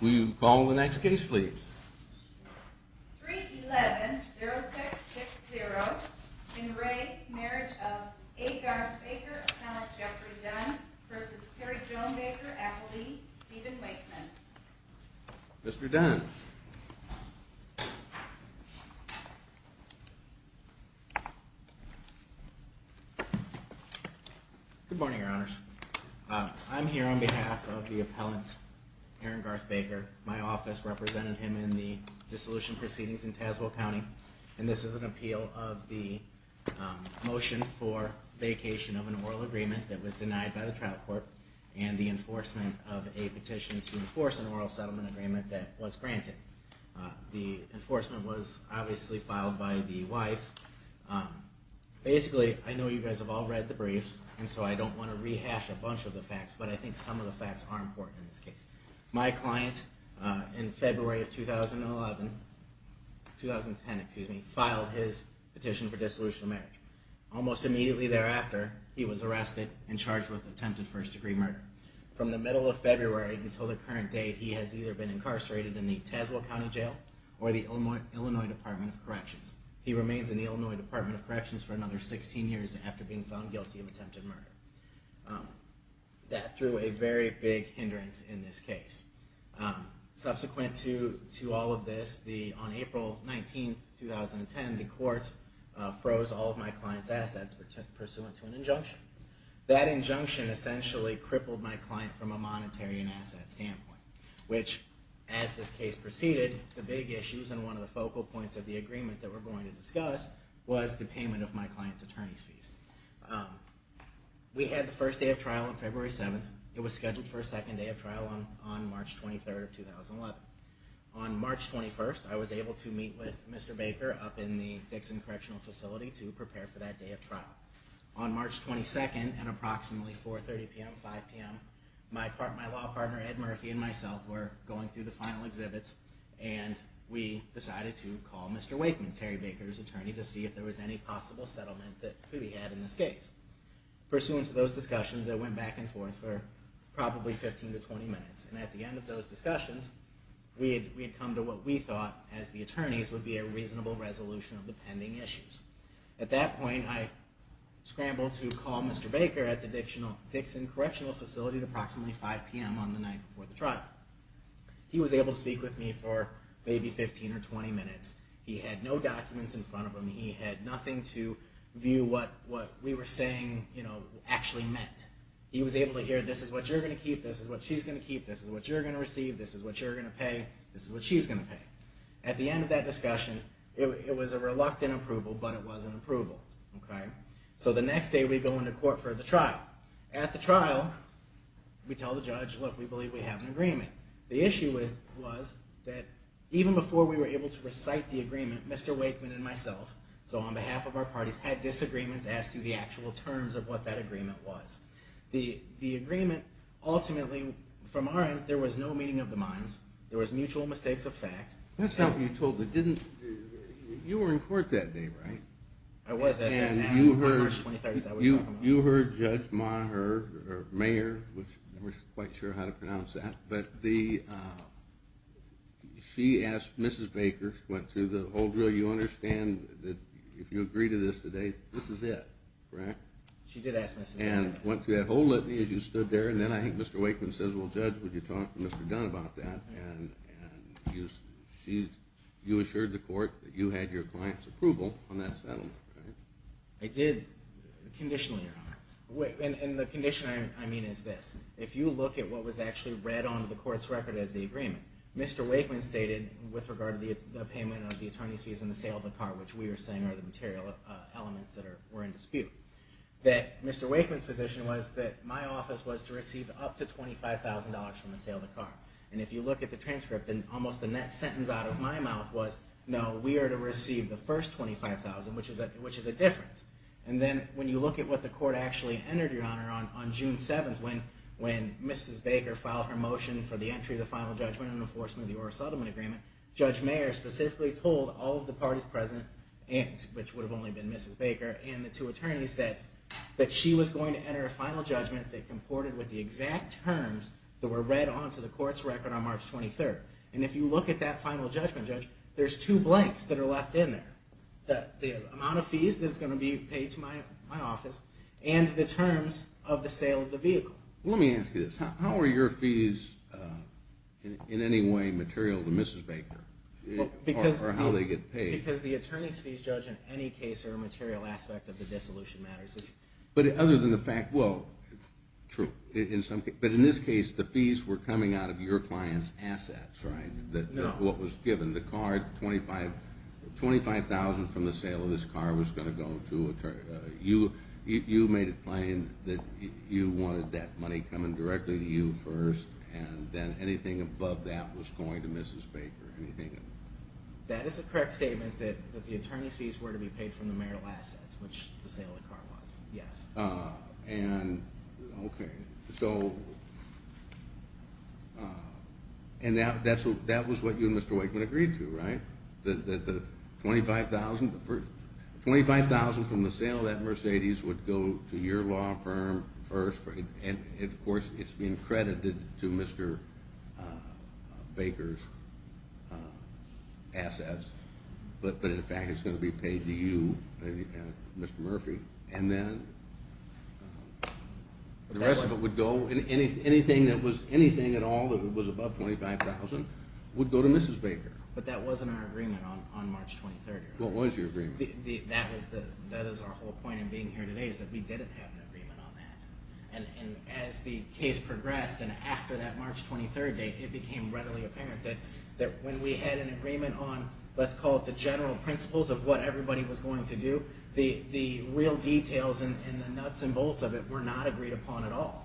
Will you call the next case please? 311-0660. In re Marriage of A. Garth Baecker, Appellant Jeffrey Dunn v. Terry Joan Baecker, Appellee Steven Wakeman. Mr. Dunn. Good morning, Your Honors. I'm here on behalf of the appellant, Aaron Garth Baecker. My office represented him in the dissolution proceedings in Tazewell County, and this is an appeal of the motion for vacation of an oral agreement that was denied by the trial court and the enforcement of a petition to enforce an oral settlement agreement that was granted. The enforcement was obviously filed by the wife. Basically, I know you guys have all read the brief, and so I don't want to rehash a bunch of the facts, but I think some of the facts are important in this case. My client, in February of 2010, filed his petition for dissolution of marriage. Almost immediately thereafter, he was arrested and charged with attempted first degree murder. From the middle of February until the current day, he has either been incarcerated in the Tazewell County Jail or the Illinois Department of Corrections. He remains in the Illinois Department of Corrections for another 16 years after being found guilty of attempted murder. That threw a very big hindrance in this case. Subsequent to all of this, on April 19, 2010, the court froze all of my client's assets pursuant to an injunction. That injunction essentially crippled my client from a monetary and asset standpoint. Which, as this case proceeded, the big issues and one of the focal points of the agreement that we're going to discuss was the payment of my client's attorney's fees. We had the first day of trial on February 7. It was scheduled for a second day of trial on March 23, 2011. On March 21, I was able to meet with Mr. Baker up in the Dixon Correctional Facility to prepare for that day of trial. On March 22nd at approximately 4.30pm-5pm, my law partner Ed Murphy and myself were going through the final exhibits and we decided to call Mr. Wakeman, Terry Baker's attorney, to see if there was any possible settlement that could be had in this case. Pursuant to those discussions, it went back and forth for probably 15 to 20 minutes. At the end of those discussions, we had come to what we thought, as the attorneys, would be a reasonable resolution of the pending issues. At that point, I scrambled to call Mr. Baker at the Dixon Correctional Facility at approximately 5pm on the night before the trial. He was able to speak with me for maybe 15 or 20 minutes. He had no documents in front of him. He had nothing to view what we were saying actually meant. He was able to hear, this is what you're going to keep, this is what she's going to keep, this is what you're going to receive, this is what you're going to pay, this is what she's going to pay. At the end of that discussion, it was a reluctant approval, but it was an approval. So the next day we go into court for the trial. At the trial, we tell the judge, look, we believe we have an agreement. The issue was that even before we were able to recite the agreement, Mr. Wakeman and myself, so on behalf of our parties, had disagreements as to the actual terms of what that agreement was. The agreement ultimately, from our end, there was no meeting of the minds. There was mutual mistakes of fact. That's not what you told me. You were in court that day, right? I was that day. You heard Judge Maher, or Mayor, I'm not quite sure how to pronounce that, but she asked Mrs. Baker, went through the whole drill, you understand that if you agree to this today, this is it, right? She did ask Mrs. Baker. And went through that whole litany as you stood there, and then I think Mr. Wakeman says, well Judge, would you talk to Mr. Dunn about that? And you assured the court that you had your client's approval on that settlement, right? I did, conditionally or not. And the condition I mean is this. If you look at what was actually read on the court's record as the agreement, Mr. Wakeman stated, with regard to the payment of the attorney's fees and the sale of the car, which we were saying are the material elements that were in dispute, that Mr. Wakeman's position was that my office was to receive up to $25,000 from the sale of the car. And if you look at the transcript, almost the next sentence out of my mouth was, no, we are to receive the first $25,000, which is a difference. And then when you look at what the court actually entered, Your Honor, on June 7th, when Mrs. Baker filed her motion for the entry of the final judgment in enforcement of the Orr Settlement Agreement, Judge Mayer specifically told all of the parties present, which would have only been Mrs. Baker and the two attorneys, that she was going to enter a final judgment that comported with the exact terms that were read onto the court's record on March 23rd. And if you look at that final judgment, Judge, there's two blanks that are left in there. The amount of fees that's going to be paid to my office, and the terms of the sale of the vehicle. Let me ask you this. How are your fees in any way material to Mrs. Baker? Or how do they get paid? Because the attorney's fees, Judge, in any case are a material aspect of the dissolution matters. But other than the fact, well, true. But in this case, the fees were coming out of your client's assets, right? No. What was given. The car, $25,000 from the sale of this car was going to go to you. You made it plain that you wanted that money coming directly to you first, and then anything above that was going to Mrs. Baker. That is a correct statement that the attorney's fees were to be paid from the mayoral assets, which the sale of the car was, yes. Okay. And that was what you and Mr. Wakeman agreed to, right? $25,000 from the sale of that Mercedes would go to your law firm first, and of course it's being credited to Mr. Baker's assets. But in fact, it's going to be paid to you, Mr. Murphy. And then the rest of it would go, anything at all that was above $25,000 would go to Mrs. Baker. But that wasn't our agreement on March 23rd. What was your agreement? That is our whole point in being here today, is that we didn't have an agreement on that. And as the case progressed, and after that March 23rd date, it became readily apparent that when we had an agreement on, let's call it the general principles of what everybody was going to do, the real details and the nuts and bolts of it were not agreed upon at all.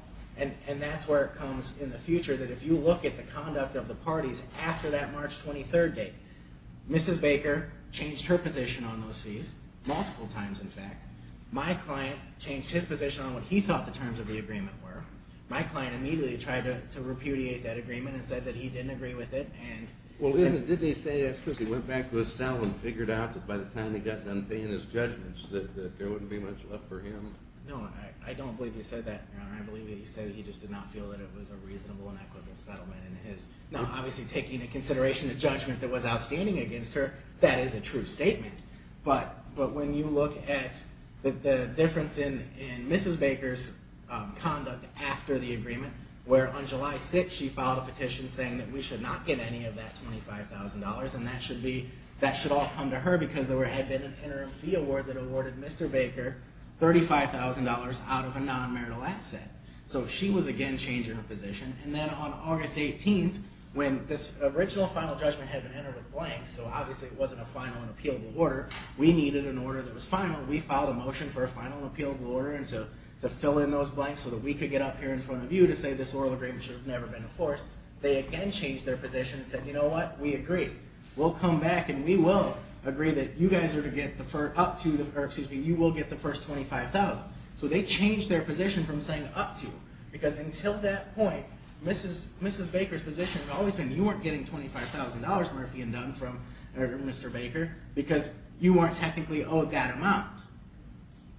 And that's where it comes in the future, that if you look at the conduct of the parties after that March 23rd date, Mrs. Baker changed her position on those fees, multiple times in fact. My client changed his position on what he thought the terms of the agreement were. My client immediately tried to repudiate that agreement and said that he didn't agree with it. Well, didn't he say that because he went back to his cell and figured out that by the time he got done paying his judgments that there wouldn't be much left for him? No, I don't believe he said that, Your Honor. I believe that he said that he just did not feel that it was a reasonable and equitable settlement. Now, obviously taking into consideration the judgment that was outstanding against her, that is a true statement. But when you look at the difference in Mrs. Baker's conduct after the agreement, where on July 6th she filed a petition saying that we should not get any of that $25,000, and that should all come to her because there had been an interim fee award that awarded Mr. Baker $35,000 out of a non-marital asset. So she was again changing her position. And then on August 18th, when this original final judgment had been entered with blanks, so obviously it wasn't a final and appealable order. We needed an order that was final. We filed a motion for a final and appealable order to fill in those blanks so that we could get up here in front of you to say this oral agreement should have never been enforced. They again changed their position and said, you know what? We agree. We'll come back and we will agree that you guys are to get up to, or excuse me, you will get the first $25,000. So they changed their position from saying up to, because until that point, Mrs. Baker's position had always been you weren't getting $25,000, Murphy and Dunn from Mr. Baker, because you weren't technically owed that amount.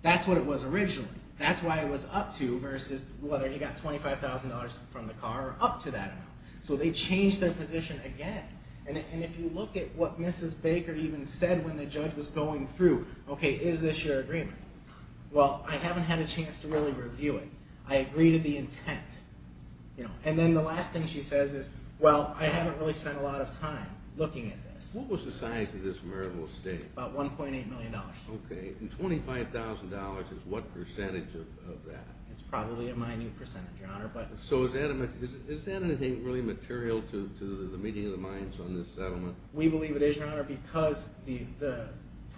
That's what it was originally. That's why it was up to versus whether you got $25,000 from the car or up to that amount. So they changed their position again. And if you look at what Mrs. Baker even said when the judge was going through, okay, is this your agreement? Well, I haven't had a chance to really review it. I agree to the intent. And then the last thing she says is, well, I haven't really spent a lot of time looking at this. What was the size of this marital estate? About $1.8 million. Okay. And $25,000 is what percentage of that? It's probably a minute percentage, Your Honor. So is that anything really material to the meeting of the minds on this settlement? We believe it is, Your Honor, because the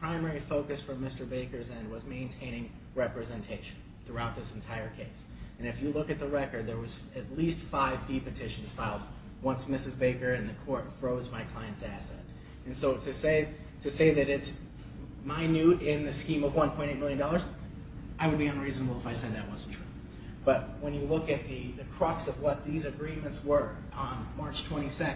primary focus from Mr. Baker's end was maintaining representation throughout this entire case. And if you look at the record, there was at least five fee petitions filed once Mrs. Baker and the court froze my client's assets. And so to say that it's minute in the scheme of $1.8 million, I would be unreasonable if I said that wasn't true. But when you look at the crux of what these agreements were on March 22nd,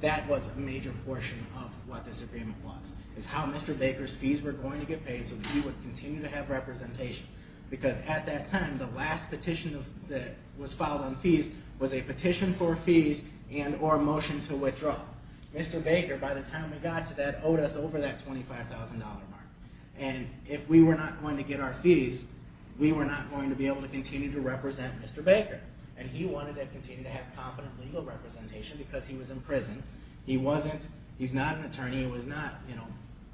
that was a major portion of what this agreement was. It's how Mr. Baker's fees were going to get paid so that he would continue to have representation. Because at that time, the last petition that was filed on fees was a petition for fees and or a motion to withdraw. Mr. Baker, by the time we got to that, owed us over that $25,000 mark. And if we were not going to get our fees, we were not going to be able to continue to represent Mr. Baker. And he wanted to continue to have competent legal representation because he was in prison. He's not an attorney. He was not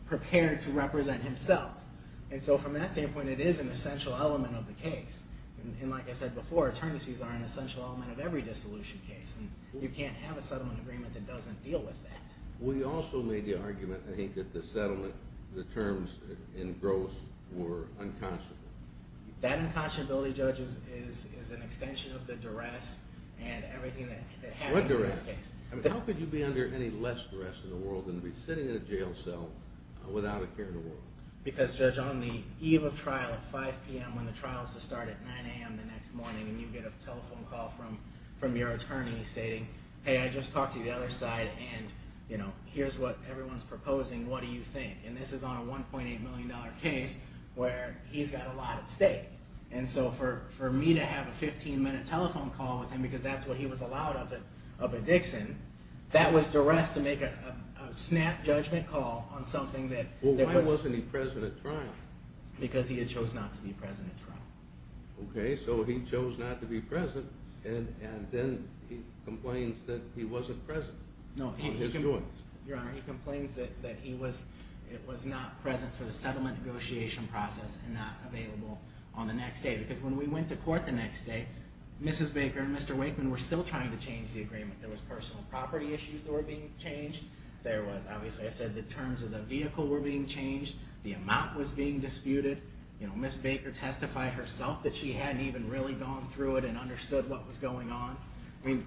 prepared to represent himself. And so from that standpoint, it is an essential element of the case. And like I said before, attorney's fees are an essential element of every dissolution case. And you can't have a settlement agreement that doesn't deal with that. We also made the argument, I think, that the terms in Gross were unconscionable. That unconscionability, Judge, is an extension of the duress and everything that happened in this case. How could you be under any less duress in the world than to be sitting in a jail cell without a care in the world? Because, Judge, on the eve of trial at 5 p.m., when the trial is to start at 9 a.m. the next morning and you get a telephone call from your attorney saying, hey, I just talked to the other side and, you know, here's what everyone's proposing, what do you think? And this is on a $1.8 million case where he's got a lot at stake. And so for me to have a 15-minute telephone call with him because that's what he was allowed of a Dixon, that was duress to make a snap judgment call on something that was— Well, why wasn't he present at trial? Because he had chose not to be present at trial. Okay, so he chose not to be present and then he complains that he wasn't present on his joints. No, Your Honor, he complains that he was not present for the settlement negotiation process and not available on the next day because when we went to court the next day, Mrs. Baker and Mr. Wakeman were still trying to change the agreement. There was personal property issues that were being changed. There was, obviously, I said the terms of the vehicle were being changed. The amount was being disputed. Mrs. Baker testified herself that she hadn't even really gone through it and understood what was going on. I mean,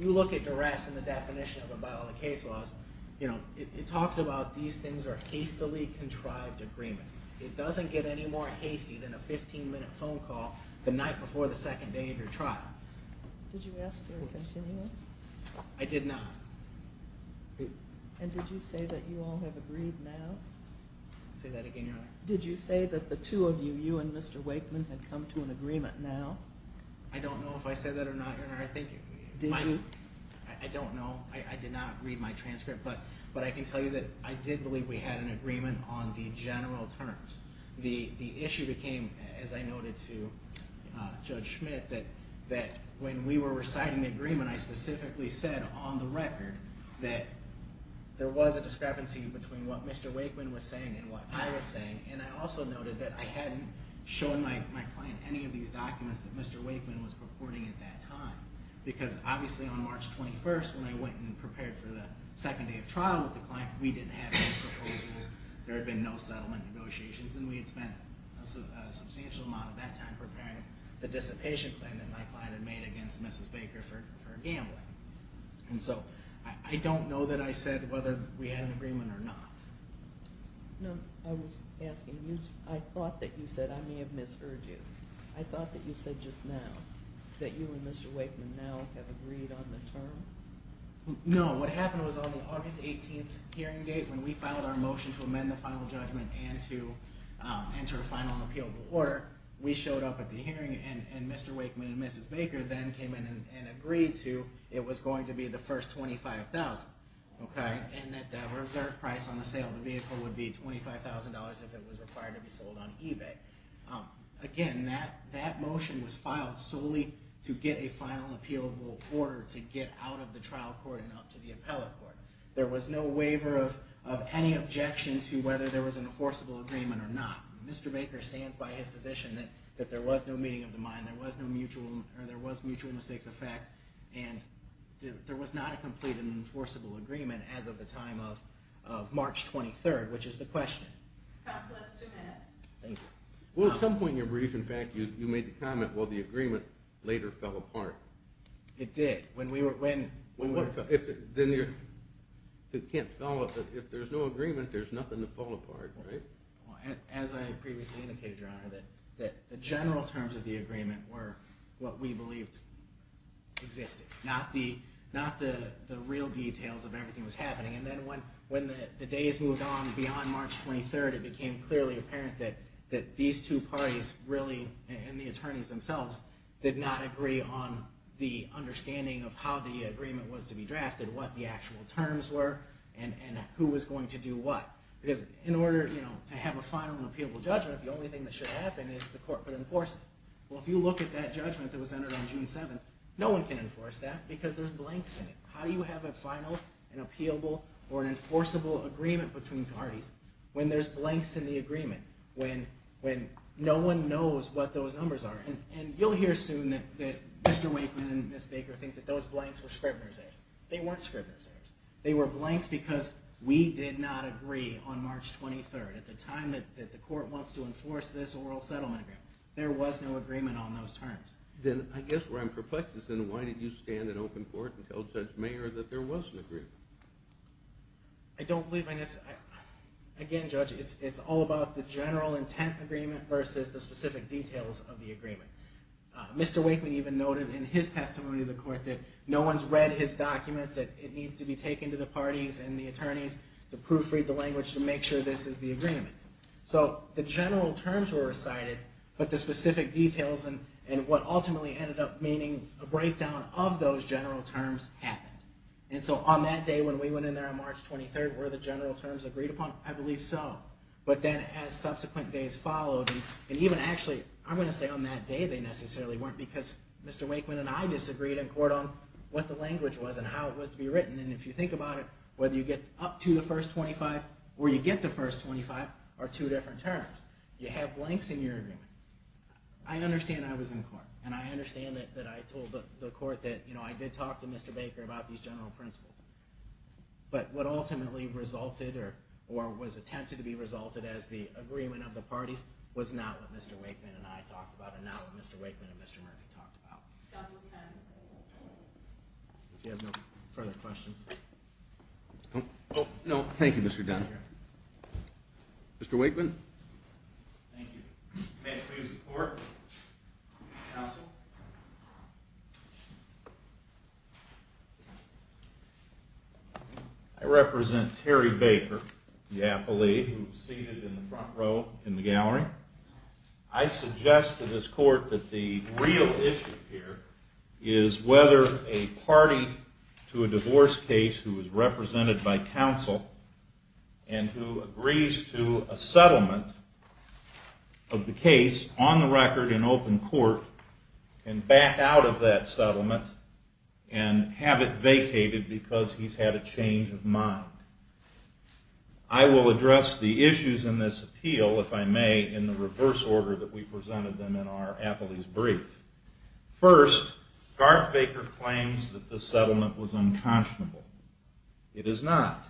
you look at duress and the definition of it by all the case laws, it talks about these things are hastily contrived agreements. It doesn't get any more hasty than a 15-minute phone call the night before the second day of your trial. Did you ask for a continuance? I did not. And did you say that you all have agreed now? Say that again, Your Honor. Did you say that the two of you, you and Mr. Wakeman, had come to an agreement now? I don't know if I said that or not, Your Honor. Did you? I don't know. I did not read my transcript. But I can tell you that I did believe we had an agreement on the general terms. The issue became, as I noted to Judge Schmidt, that when we were reciting the agreement, I specifically said on the record that there was a discrepancy between what Mr. Wakeman was saying and what I was saying, and I also noted that I hadn't shown my client any of these documents that Mr. Wakeman was purporting at that time. Because obviously on March 21st, when I went and prepared for the second day of trial with the client, we didn't have those proposals, there had been no settlement negotiations, and we had spent a substantial amount of that time preparing the dissipation claim that my client had made against Mrs. Baker for gambling. And so I don't know that I said whether we had an agreement or not. No, I was asking, I thought that you said, I may have misheard you, I thought that you said just now that you and Mr. Wakeman now have agreed on the term? No, what happened was on the August 18th hearing date when we filed our motion to amend the final judgment and to enter a final and appealable order, we showed up at the hearing and Mr. Wakeman and Mrs. Baker then came in and agreed to it was going to be the first $25,000. And that the reserve price on the sale of the vehicle would be $25,000 if it was required to be sold on eBay. Again, that motion was filed solely to get a final and appealable order to get out of the trial court and out to the appellate court. There was no waiver of any objection to whether there was an enforceable agreement or not. Mr. Baker stands by his position that there was no meeting of the mind, there was mutual mistakes of fact, and there was not a complete and enforceable agreement as of the time of March 23rd, which is the question. Counsel, that's two minutes. Thank you. Well, at some point in your brief, in fact, you made the comment, well, the agreement later fell apart. It did. Then you can't follow up, if there's no agreement, there's nothing to fall apart, right? As I previously indicated, Your Honor, that the general terms of the agreement were what we believed existed, not the real details of everything that was happening. And then when the days moved on beyond March 23rd, it became clearly apparent that these two parties really, and the attorneys themselves, did not agree on the understanding of how the agreement was to be drafted, what the actual terms were, and who was going to do what. Because in order to have a final and appealable judgment, the only thing that should happen is the court could enforce it. Well, if you look at that judgment that was entered on June 7th, no one can enforce that because there's blanks in it. How do you have a final and appealable or an enforceable agreement between parties when there's blanks in the agreement, when no one knows what those numbers are? And you'll hear soon that Mr. Wakeman and Ms. Baker think that those blanks were Scribner's errors. They weren't Scribner's errors. They were blanks because we did not agree on March 23rd, at the time that the court wants to enforce this oral settlement agreement. There was no agreement on those terms. Then I guess where I'm perplexed is then why did you stand in open court and tell Judge Mayer that there was an agreement? I don't believe I necessarily – again, Judge, it's all about the general intent agreement versus the specific details of the agreement. Mr. Wakeman even noted in his testimony to the court that no one's read his documents, that it needs to be taken to the parties and the attorneys to proofread the language to make sure this is the agreement. So the general terms were recited, but the specific details and what ultimately ended up meaning a breakdown of those general terms happened. And so on that day when we went in there on March 23rd, were the general terms agreed upon? I believe so. But then as subsequent days followed, and even actually, I'm going to say on that day they necessarily weren't, because Mr. Wakeman and I disagreed in court on what the language was and how it was to be written. And if you think about it, whether you get up to the first 25 or you get the first 25 are two different terms. You have blanks in your agreement. I understand I was in court, and I understand that I told the court that I did talk to Mr. Baker about these general principles. But what ultimately resulted, or was attempted to be resulted as the agreement of the parties, was not what Mr. Wakeman and I talked about, and not what Mr. Wakeman and Mr. Murphy talked about. If you have no further questions. No, thank you, Mr. Dunn. Mr. Wakeman? Thank you. May I ask for your support? Counsel? I represent Terry Baker, the appellee, who is seated in the front row in the gallery. I suggest to this court that the real issue here is whether a party to a divorce case who is represented by counsel and who agrees to a settlement of the case on the record in open court can back out of that settlement and have it vacated because he's had a change of mind. I will address the issues in this appeal, if I may, in the reverse order that we presented them in our appellee's brief. First, Garth Baker claims that the settlement was unconscionable. It is not.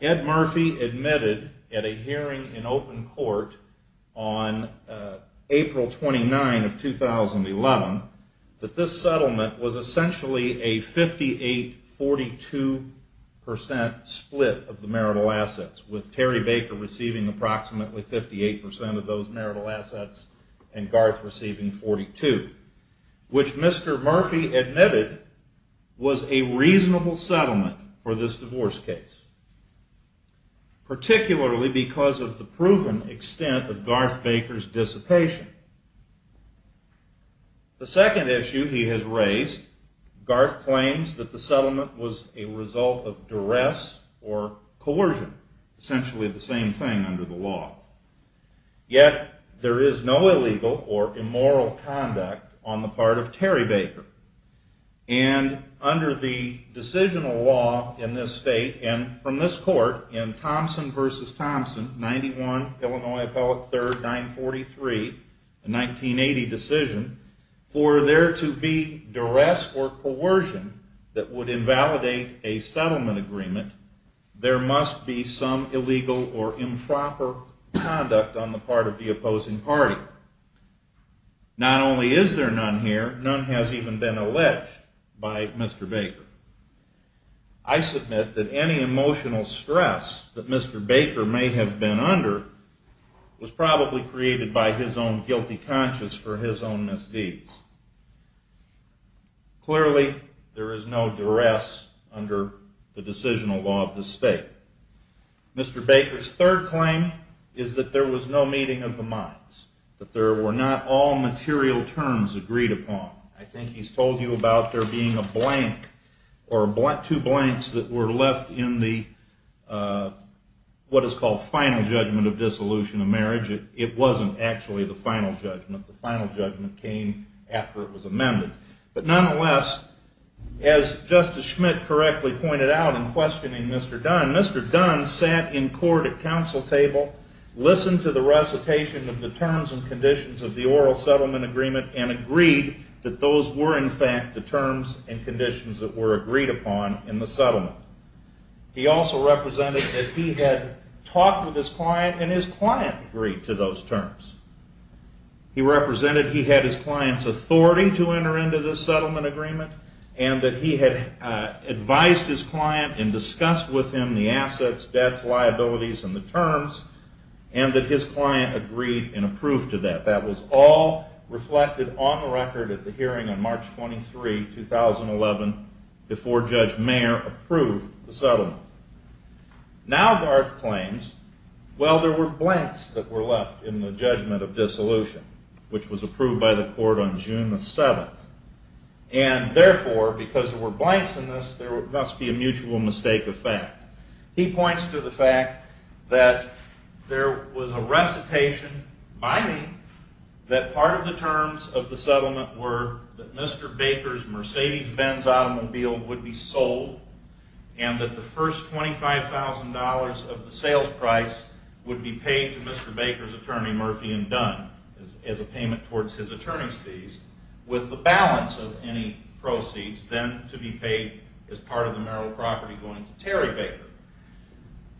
Ed Murphy admitted at a hearing in open court on April 29, 2011, that this settlement was essentially a 58-42% split of the marital assets, with Terry Baker receiving approximately 58% of those marital assets and Garth receiving 42%, which Mr. Murphy admitted was a reasonable settlement for this divorce case, particularly because of the proven extent of Garth Baker's dissipation. The second issue he has raised, Garth claims that the settlement was a result of duress or coercion, essentially the same thing under the law. Yet there is no illegal or immoral conduct on the part of Terry Baker. And under the decisional law in this state and from this court in Thompson v. Thompson, 91 Illinois Appellate 3rd 943, a 1980 decision, for there to be duress or coercion that would invalidate a settlement agreement, there must be some illegal or improper conduct on the part of the opposing party. Not only is there none here, none has even been alleged by Mr. Baker. I submit that any emotional stress that Mr. Baker may have been under was probably created by his own guilty conscience for his own misdeeds. Clearly, there is no duress under the decisional law of this state. Mr. Baker's third claim is that there was no meeting of the minds, that there were not all material terms agreed upon. I think he's told you about there being a blank or two blanks that were left in the what is called final judgment of dissolution of marriage. It wasn't actually the final judgment. The final judgment came after it was amended. But nonetheless, as Justice Schmidt correctly pointed out in questioning Mr. Dunn, Mr. Dunn sat in court at council table, listened to the recitation of the terms and conditions of the oral settlement agreement, and agreed that those were in fact the terms and conditions that were agreed upon in the settlement. He also represented that he had talked with his client and his client agreed to those terms. He represented he had his client's authority to enter into this settlement agreement and that he had advised his client and discussed with him the assets, debts, liabilities, and the terms and that his client agreed and approved to that. That was all reflected on the record at the hearing on March 23, 2011, before Judge Mayer approved the settlement. Now Garth claims, well, there were blanks that were left in the judgment of dissolution, which was approved by the court on June the 7th. And therefore, because there were blanks in this, there must be a mutual mistake of fact. He points to the fact that there was a recitation by me that part of the terms of the settlement were that Mr. Baker's Mercedes-Benz automobile would be sold and that the first $25,000 of the sales price would be paid to Mr. Baker's attorney, Murphy & Dunn, as a payment towards his attorney's fees, with the balance of any proceeds then to be paid as part of the marital property going to Terry Baker.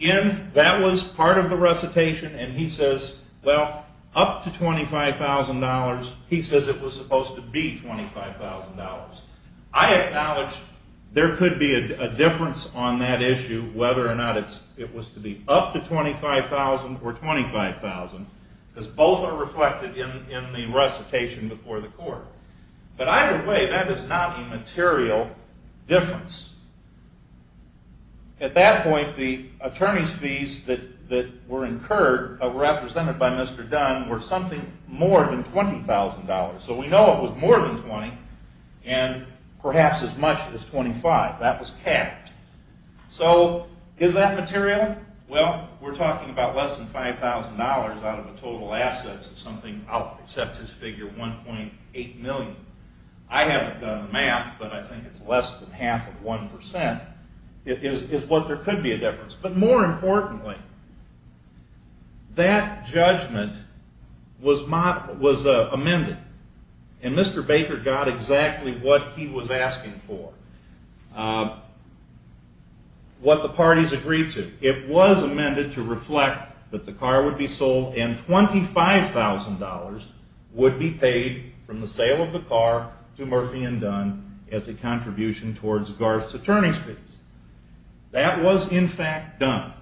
Again, that was part of the recitation and he says, well, up to $25,000, he says it was supposed to be $25,000. I acknowledge there could be a difference on that issue, whether or not it was to be up to $25,000 or $25,000, because both are reflected in the recitation before the court. But either way, that is not a material difference. At that point, the attorney's fees that were incurred, represented by Mr. Dunn, were something more than $20,000. So we know it was more than $20,000 and perhaps as much as $25,000. That was capped. So is that material? Well, we're talking about less than $5,000 out of the total assets of something, I'll accept this figure, $1.8 million. I haven't done the math, but I think it's less than half of 1%, is what there could be a difference. But more importantly, that judgment was amended, and Mr. Baker got exactly what he was asking for, what the parties agreed to. It was amended to reflect that the car would be sold, and $25,000 would be paid from the sale of the car to Murphy and Dunn as a contribution towards Garth's attorney's fees. That was, in fact, done.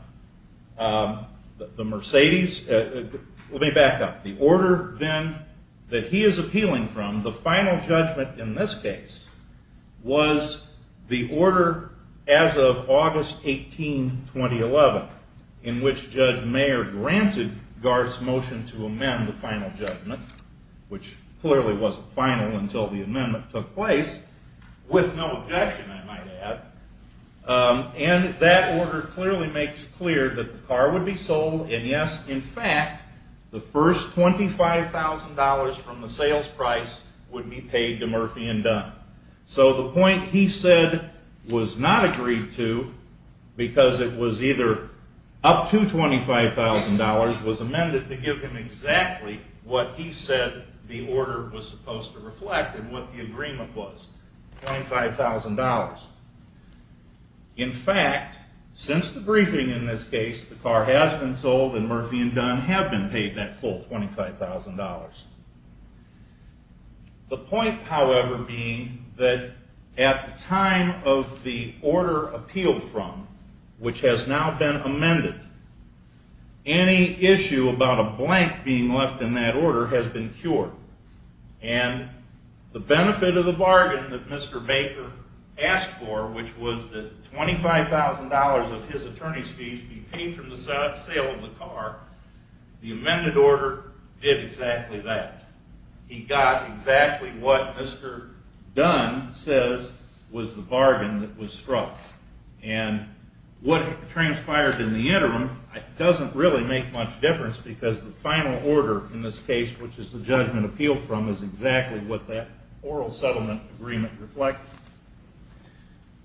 Let me back up. The order then that he is appealing from, the final judgment in this case, was the order as of August 18, 2011, in which Judge Mayer granted Garth's motion to amend the final judgment, which clearly wasn't final until the amendment took place, with no objection, I might add. And that order clearly makes clear that the car would be sold, and yes, in fact, the first $25,000 from the sales price would be paid to Murphy and Dunn. So the point he said was not agreed to, because it was either up to $25,000, was amended to give him exactly what he said the order was supposed to reflect and what the agreement was, $25,000. In fact, since the briefing in this case, the car has been sold, and Murphy and Dunn have been paid that full $25,000. The point, however, being that at the time of the order appealed from, which has now been amended, any issue about a blank being left in that order has been cured. And the benefit of the bargain that Mr. Baker asked for, which was that $25,000 of his attorney's fees be paid from the sale of the car, the amended order did exactly that. He got exactly what Mr. Dunn says was the bargain that was struck. And what transpired in the interim doesn't really make much difference, because the final order in this case, which is the judgment appealed from, is exactly what that oral settlement agreement reflected.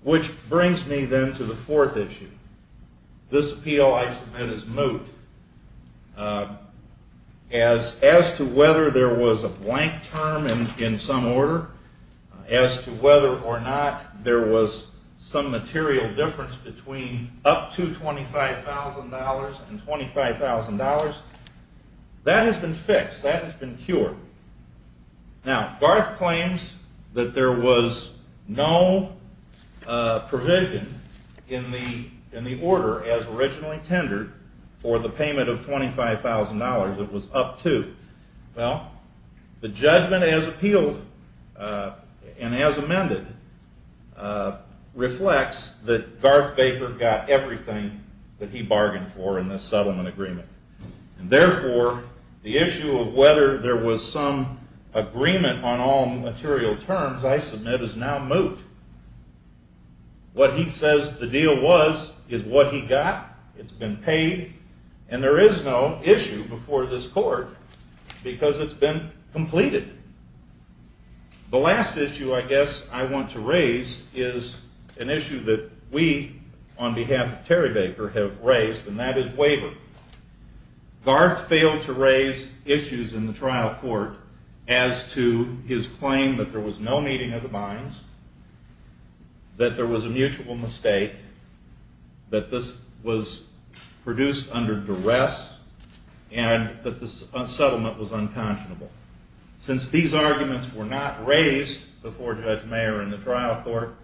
Which brings me then to the fourth issue. This appeal, I submit, is moot. As to whether there was a blank term in some order, as to whether or not there was some material difference between up to $25,000 and $25,000, that has been fixed, that has been cured. Now, Garth claims that there was no provision in the order as originally tendered for the payment of $25,000. It was up to. Well, the judgment as appealed and as amended reflects that Garth Baker got everything that he bargained for in this settlement agreement. And therefore, the issue of whether there was some agreement on all material terms, I submit, is now moot. What he says the deal was is what he got. It's been paid. And there is no issue before this court, because it's been completed. The last issue I guess I want to raise is an issue that we, on behalf of Terry Baker, have raised, and that is waiver. Garth failed to raise issues in the trial court as to his claim that there was no meeting of the binds, that there was a mutual mistake, that this was produced under duress, and that the settlement was unconscionable. Since these arguments were not raised before Judge Mayer in the trial court,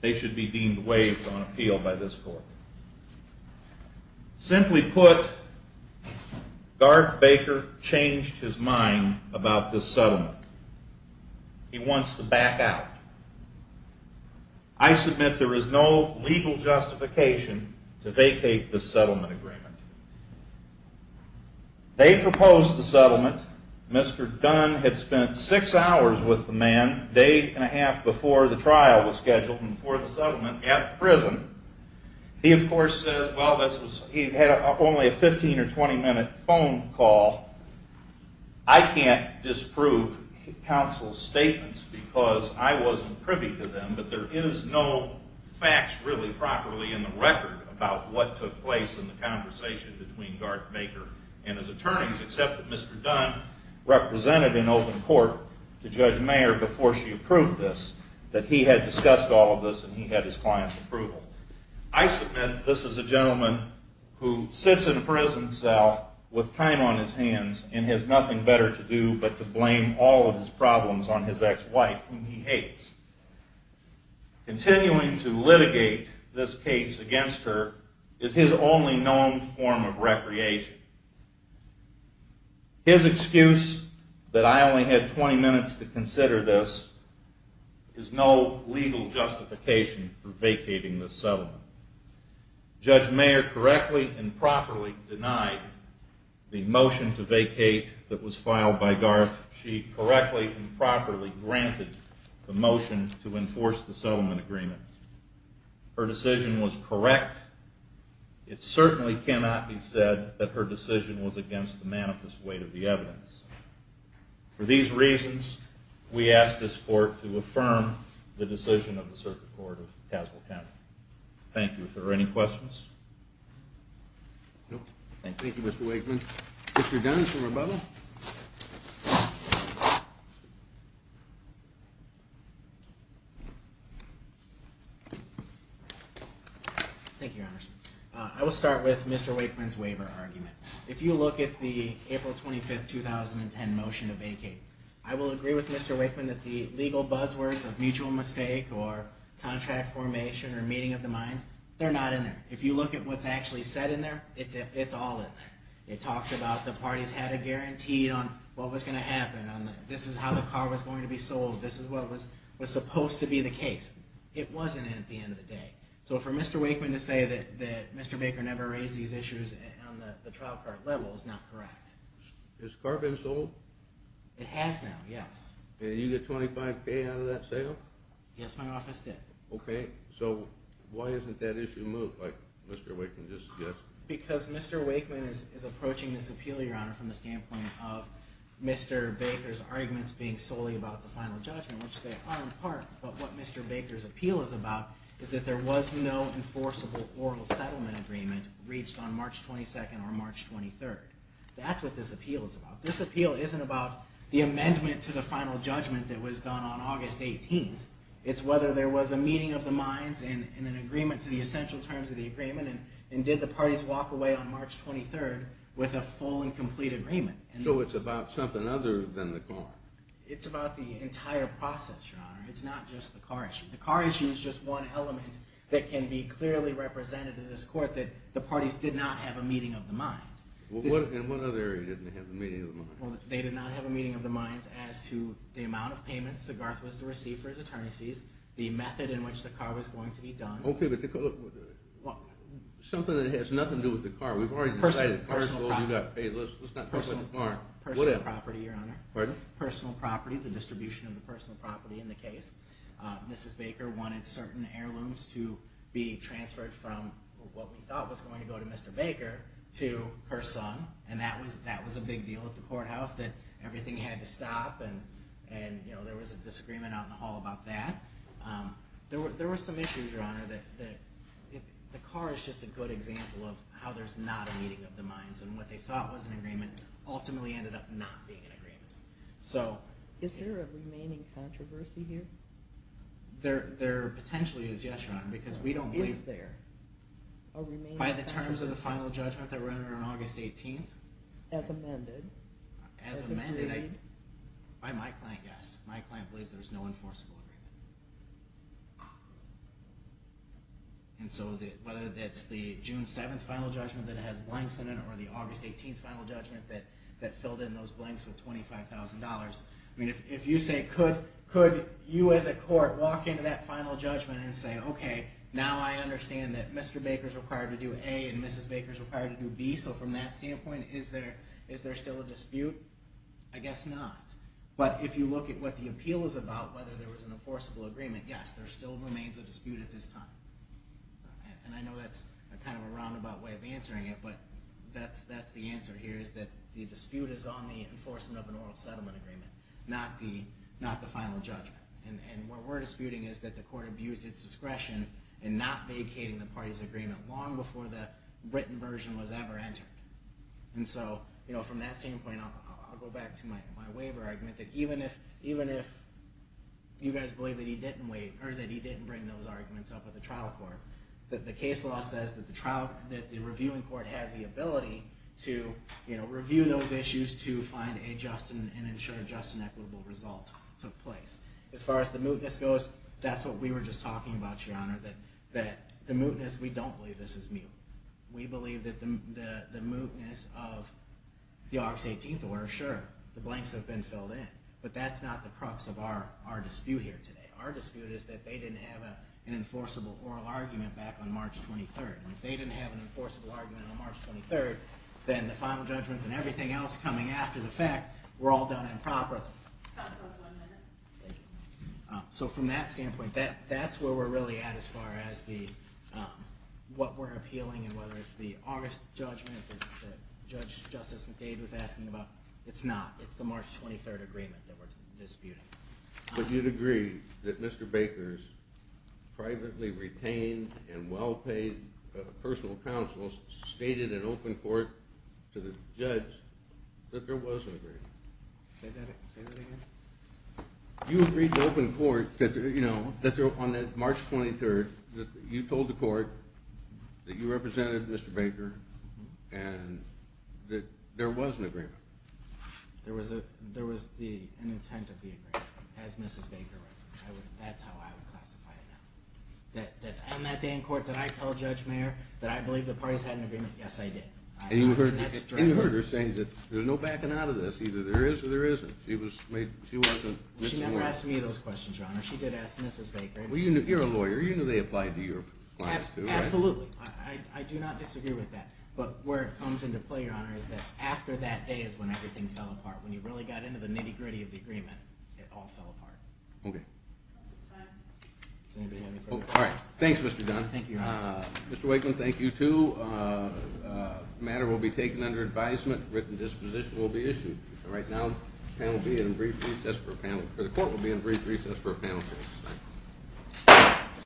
they should be deemed waived on appeal by this court. Simply put, Garth Baker changed his mind about this settlement. He wants to back out. I submit there is no legal justification to vacate this settlement agreement. They proposed the settlement. Mr. Dunn had spent six hours with the man, a day and a half before the trial was scheduled and before the settlement, at the prison. He, of course, says, well, he had only a 15 or 20-minute phone call. I can't disprove counsel's statements because I wasn't privy to them, but there is no facts really properly in the record about what took place in the conversation between Garth Baker and his attorneys, except that Mr. Dunn represented in open court to Judge Mayer before she approved this, that he had discussed all of this and he had his client's approval. I submit this is a gentleman who sits in a prison cell with time on his hands and has nothing better to do but to blame all of his problems on his ex-wife, whom he hates. Continuing to litigate this case against her is his only known form of recreation. His excuse that I only had 20 minutes to consider this is no legal justification for vacating this settlement. Judge Mayer correctly and properly denied the motion to vacate that was filed by Garth. She correctly and properly granted the motion to enforce the settlement agreement. Her decision was correct. It certainly cannot be said that her decision was against the manifest weight of the evidence. For these reasons, we ask this court to affirm the decision of the Circuit Court of Castle County. Thank you. Are there any questions? No. Thank you, Mr. Wakeman. Mr. Dunn, shall we bubble? Thank you, Your Honor. I will start with Mr. Wakeman's waiver argument. If you look at the April 25, 2010 motion to vacate, I will agree with Mr. Wakeman that the legal buzzwords of mutual mistake or contract formation or meeting of the minds, they're not in there. If you look at what's actually said in there, it's all in there. It talks about the parties had a guarantee on what was going to happen. This is how the car was going to be sold. This is what was supposed to be the case. It wasn't at the end of the day. So for Mr. Wakeman to say that Mr. Baker never raised these issues on the trial court level is not correct. Has the car been sold? It has now, yes. Did you get 25K out of that sale? Yes, my office did. So why isn't that issue moved like Mr. Wakeman just did? Because Mr. Wakeman is approaching this appeal, Your Honor, from the standpoint of Mr. Baker's arguments being solely about the final judgment, which they are in part, but what Mr. Baker's appeal is about is that there was no enforceable oral settlement agreement reached on March 22 or March 23. That's what this appeal is about. This appeal isn't about the amendment to the final judgment that was done on August 18. It's whether there was a meeting of the minds and an agreement to the essential terms of the agreement and did the parties walk away on March 23 with a full and complete agreement. So it's about something other than the car. It's about the entire process, Your Honor. It's not just the car issue. The car issue is just one element that can be clearly represented in this court that the parties did not have a meeting of the minds. In what other area didn't they have a meeting of the minds? They did not have a meeting of the minds as to the amount of payments that Garth was to receive for his attorney's fees, the method in which the car was going to be done. Okay, but something that has nothing to do with the car. We've already decided the car is going to be paid. Let's not talk about the car. Personal property, Your Honor. Pardon? Personal property, the distribution of the personal property in the case. Mrs. Baker wanted certain heirlooms to be transferred from what we thought was going to go to Mr. Baker to her son, and that was a big deal at the courthouse that everything had to stop, and there was a disagreement out in the hall about that. There were some issues, Your Honor, that the car is just a good example of how there's not a meeting of the minds, and what they thought was an agreement ultimately ended up not being an agreement. Is there a remaining controversy here? There potentially is, yes, Your Honor, because we don't believe there. Is there a remaining controversy? The final judgment that ran on August 18th? As amended. As amended by my client, yes. My client believes there's no enforceable agreement. And so whether that's the June 7th final judgment that has blanks in it or the August 18th final judgment that filled in those blanks with $25,000, if you say could you as a court walk into that final judgment and say, okay, now I understand that Mr. Baker is required to do A and Mrs. Baker is required to do B, so from that standpoint is there still a dispute? I guess not. But if you look at what the appeal is about, whether there was an enforceable agreement, yes, there still remains a dispute at this time. And I know that's kind of a roundabout way of answering it, but that's the answer here is that the dispute is on the enforcement of an oral settlement agreement, not the final judgment. And what we're disputing is that the court abused its discretion in not vacating the party's agreement long before the written version was ever entered. And so from that standpoint, I'll go back to my waiver argument, that even if you guys believe that he didn't bring those arguments up at the trial court, that the case law says that the reviewing court has the ability to review those issues to find a just and ensure a just and equitable result took place. As far as the mootness goes, that's what we were just talking about, Your Honor, that the mootness, we don't believe this is moot. We believe that the mootness of the August 18th order, sure, the blanks have been filled in, but that's not the crux of our dispute here today. Our dispute is that they didn't have an enforceable oral argument back on March 23rd, and if they didn't have an enforceable argument on March 23rd, then the final judgments and everything else coming after the fact were all done improperly. Counsel, one minute. So from that standpoint, that's where we're really at as far as what we're appealing, and whether it's the August judgment that Justice McDade was asking about, it's not. It's the March 23rd agreement that we're disputing. But you'd agree that Mr. Baker's privately retained and well-paid personal counsel stated in open court to the judge that there was an agreement. Say that again? You agreed to open court that on March 23rd you told the court that you represented Mr. Baker and that there was an agreement. There was an intent of the agreement, as Mrs. Baker referenced. That's how I would classify it now. That on that day in court did I tell Judge Mayer that I believe the parties had an agreement? Yes, I did. And you heard her saying that there's no backing out of this. Either there is or there isn't. She never asked me those questions, Your Honor. She did ask Mrs. Baker. Well, you're a lawyer. You knew they applied to your class, too, right? Absolutely. I do not disagree with that. But where it comes into play, Your Honor, is that after that day is when everything fell apart. When you really got into the nitty-gritty of the agreement, it all fell apart. Okay. Does anybody have any further questions? All right. Thanks, Mr. Dunn. Thank you, Your Honor. Mr. Wakeland, thank you, too. The matter will be taken under advisement. A written disposition will be issued. Right now, the court will be in brief recess for a panel session. Thank you.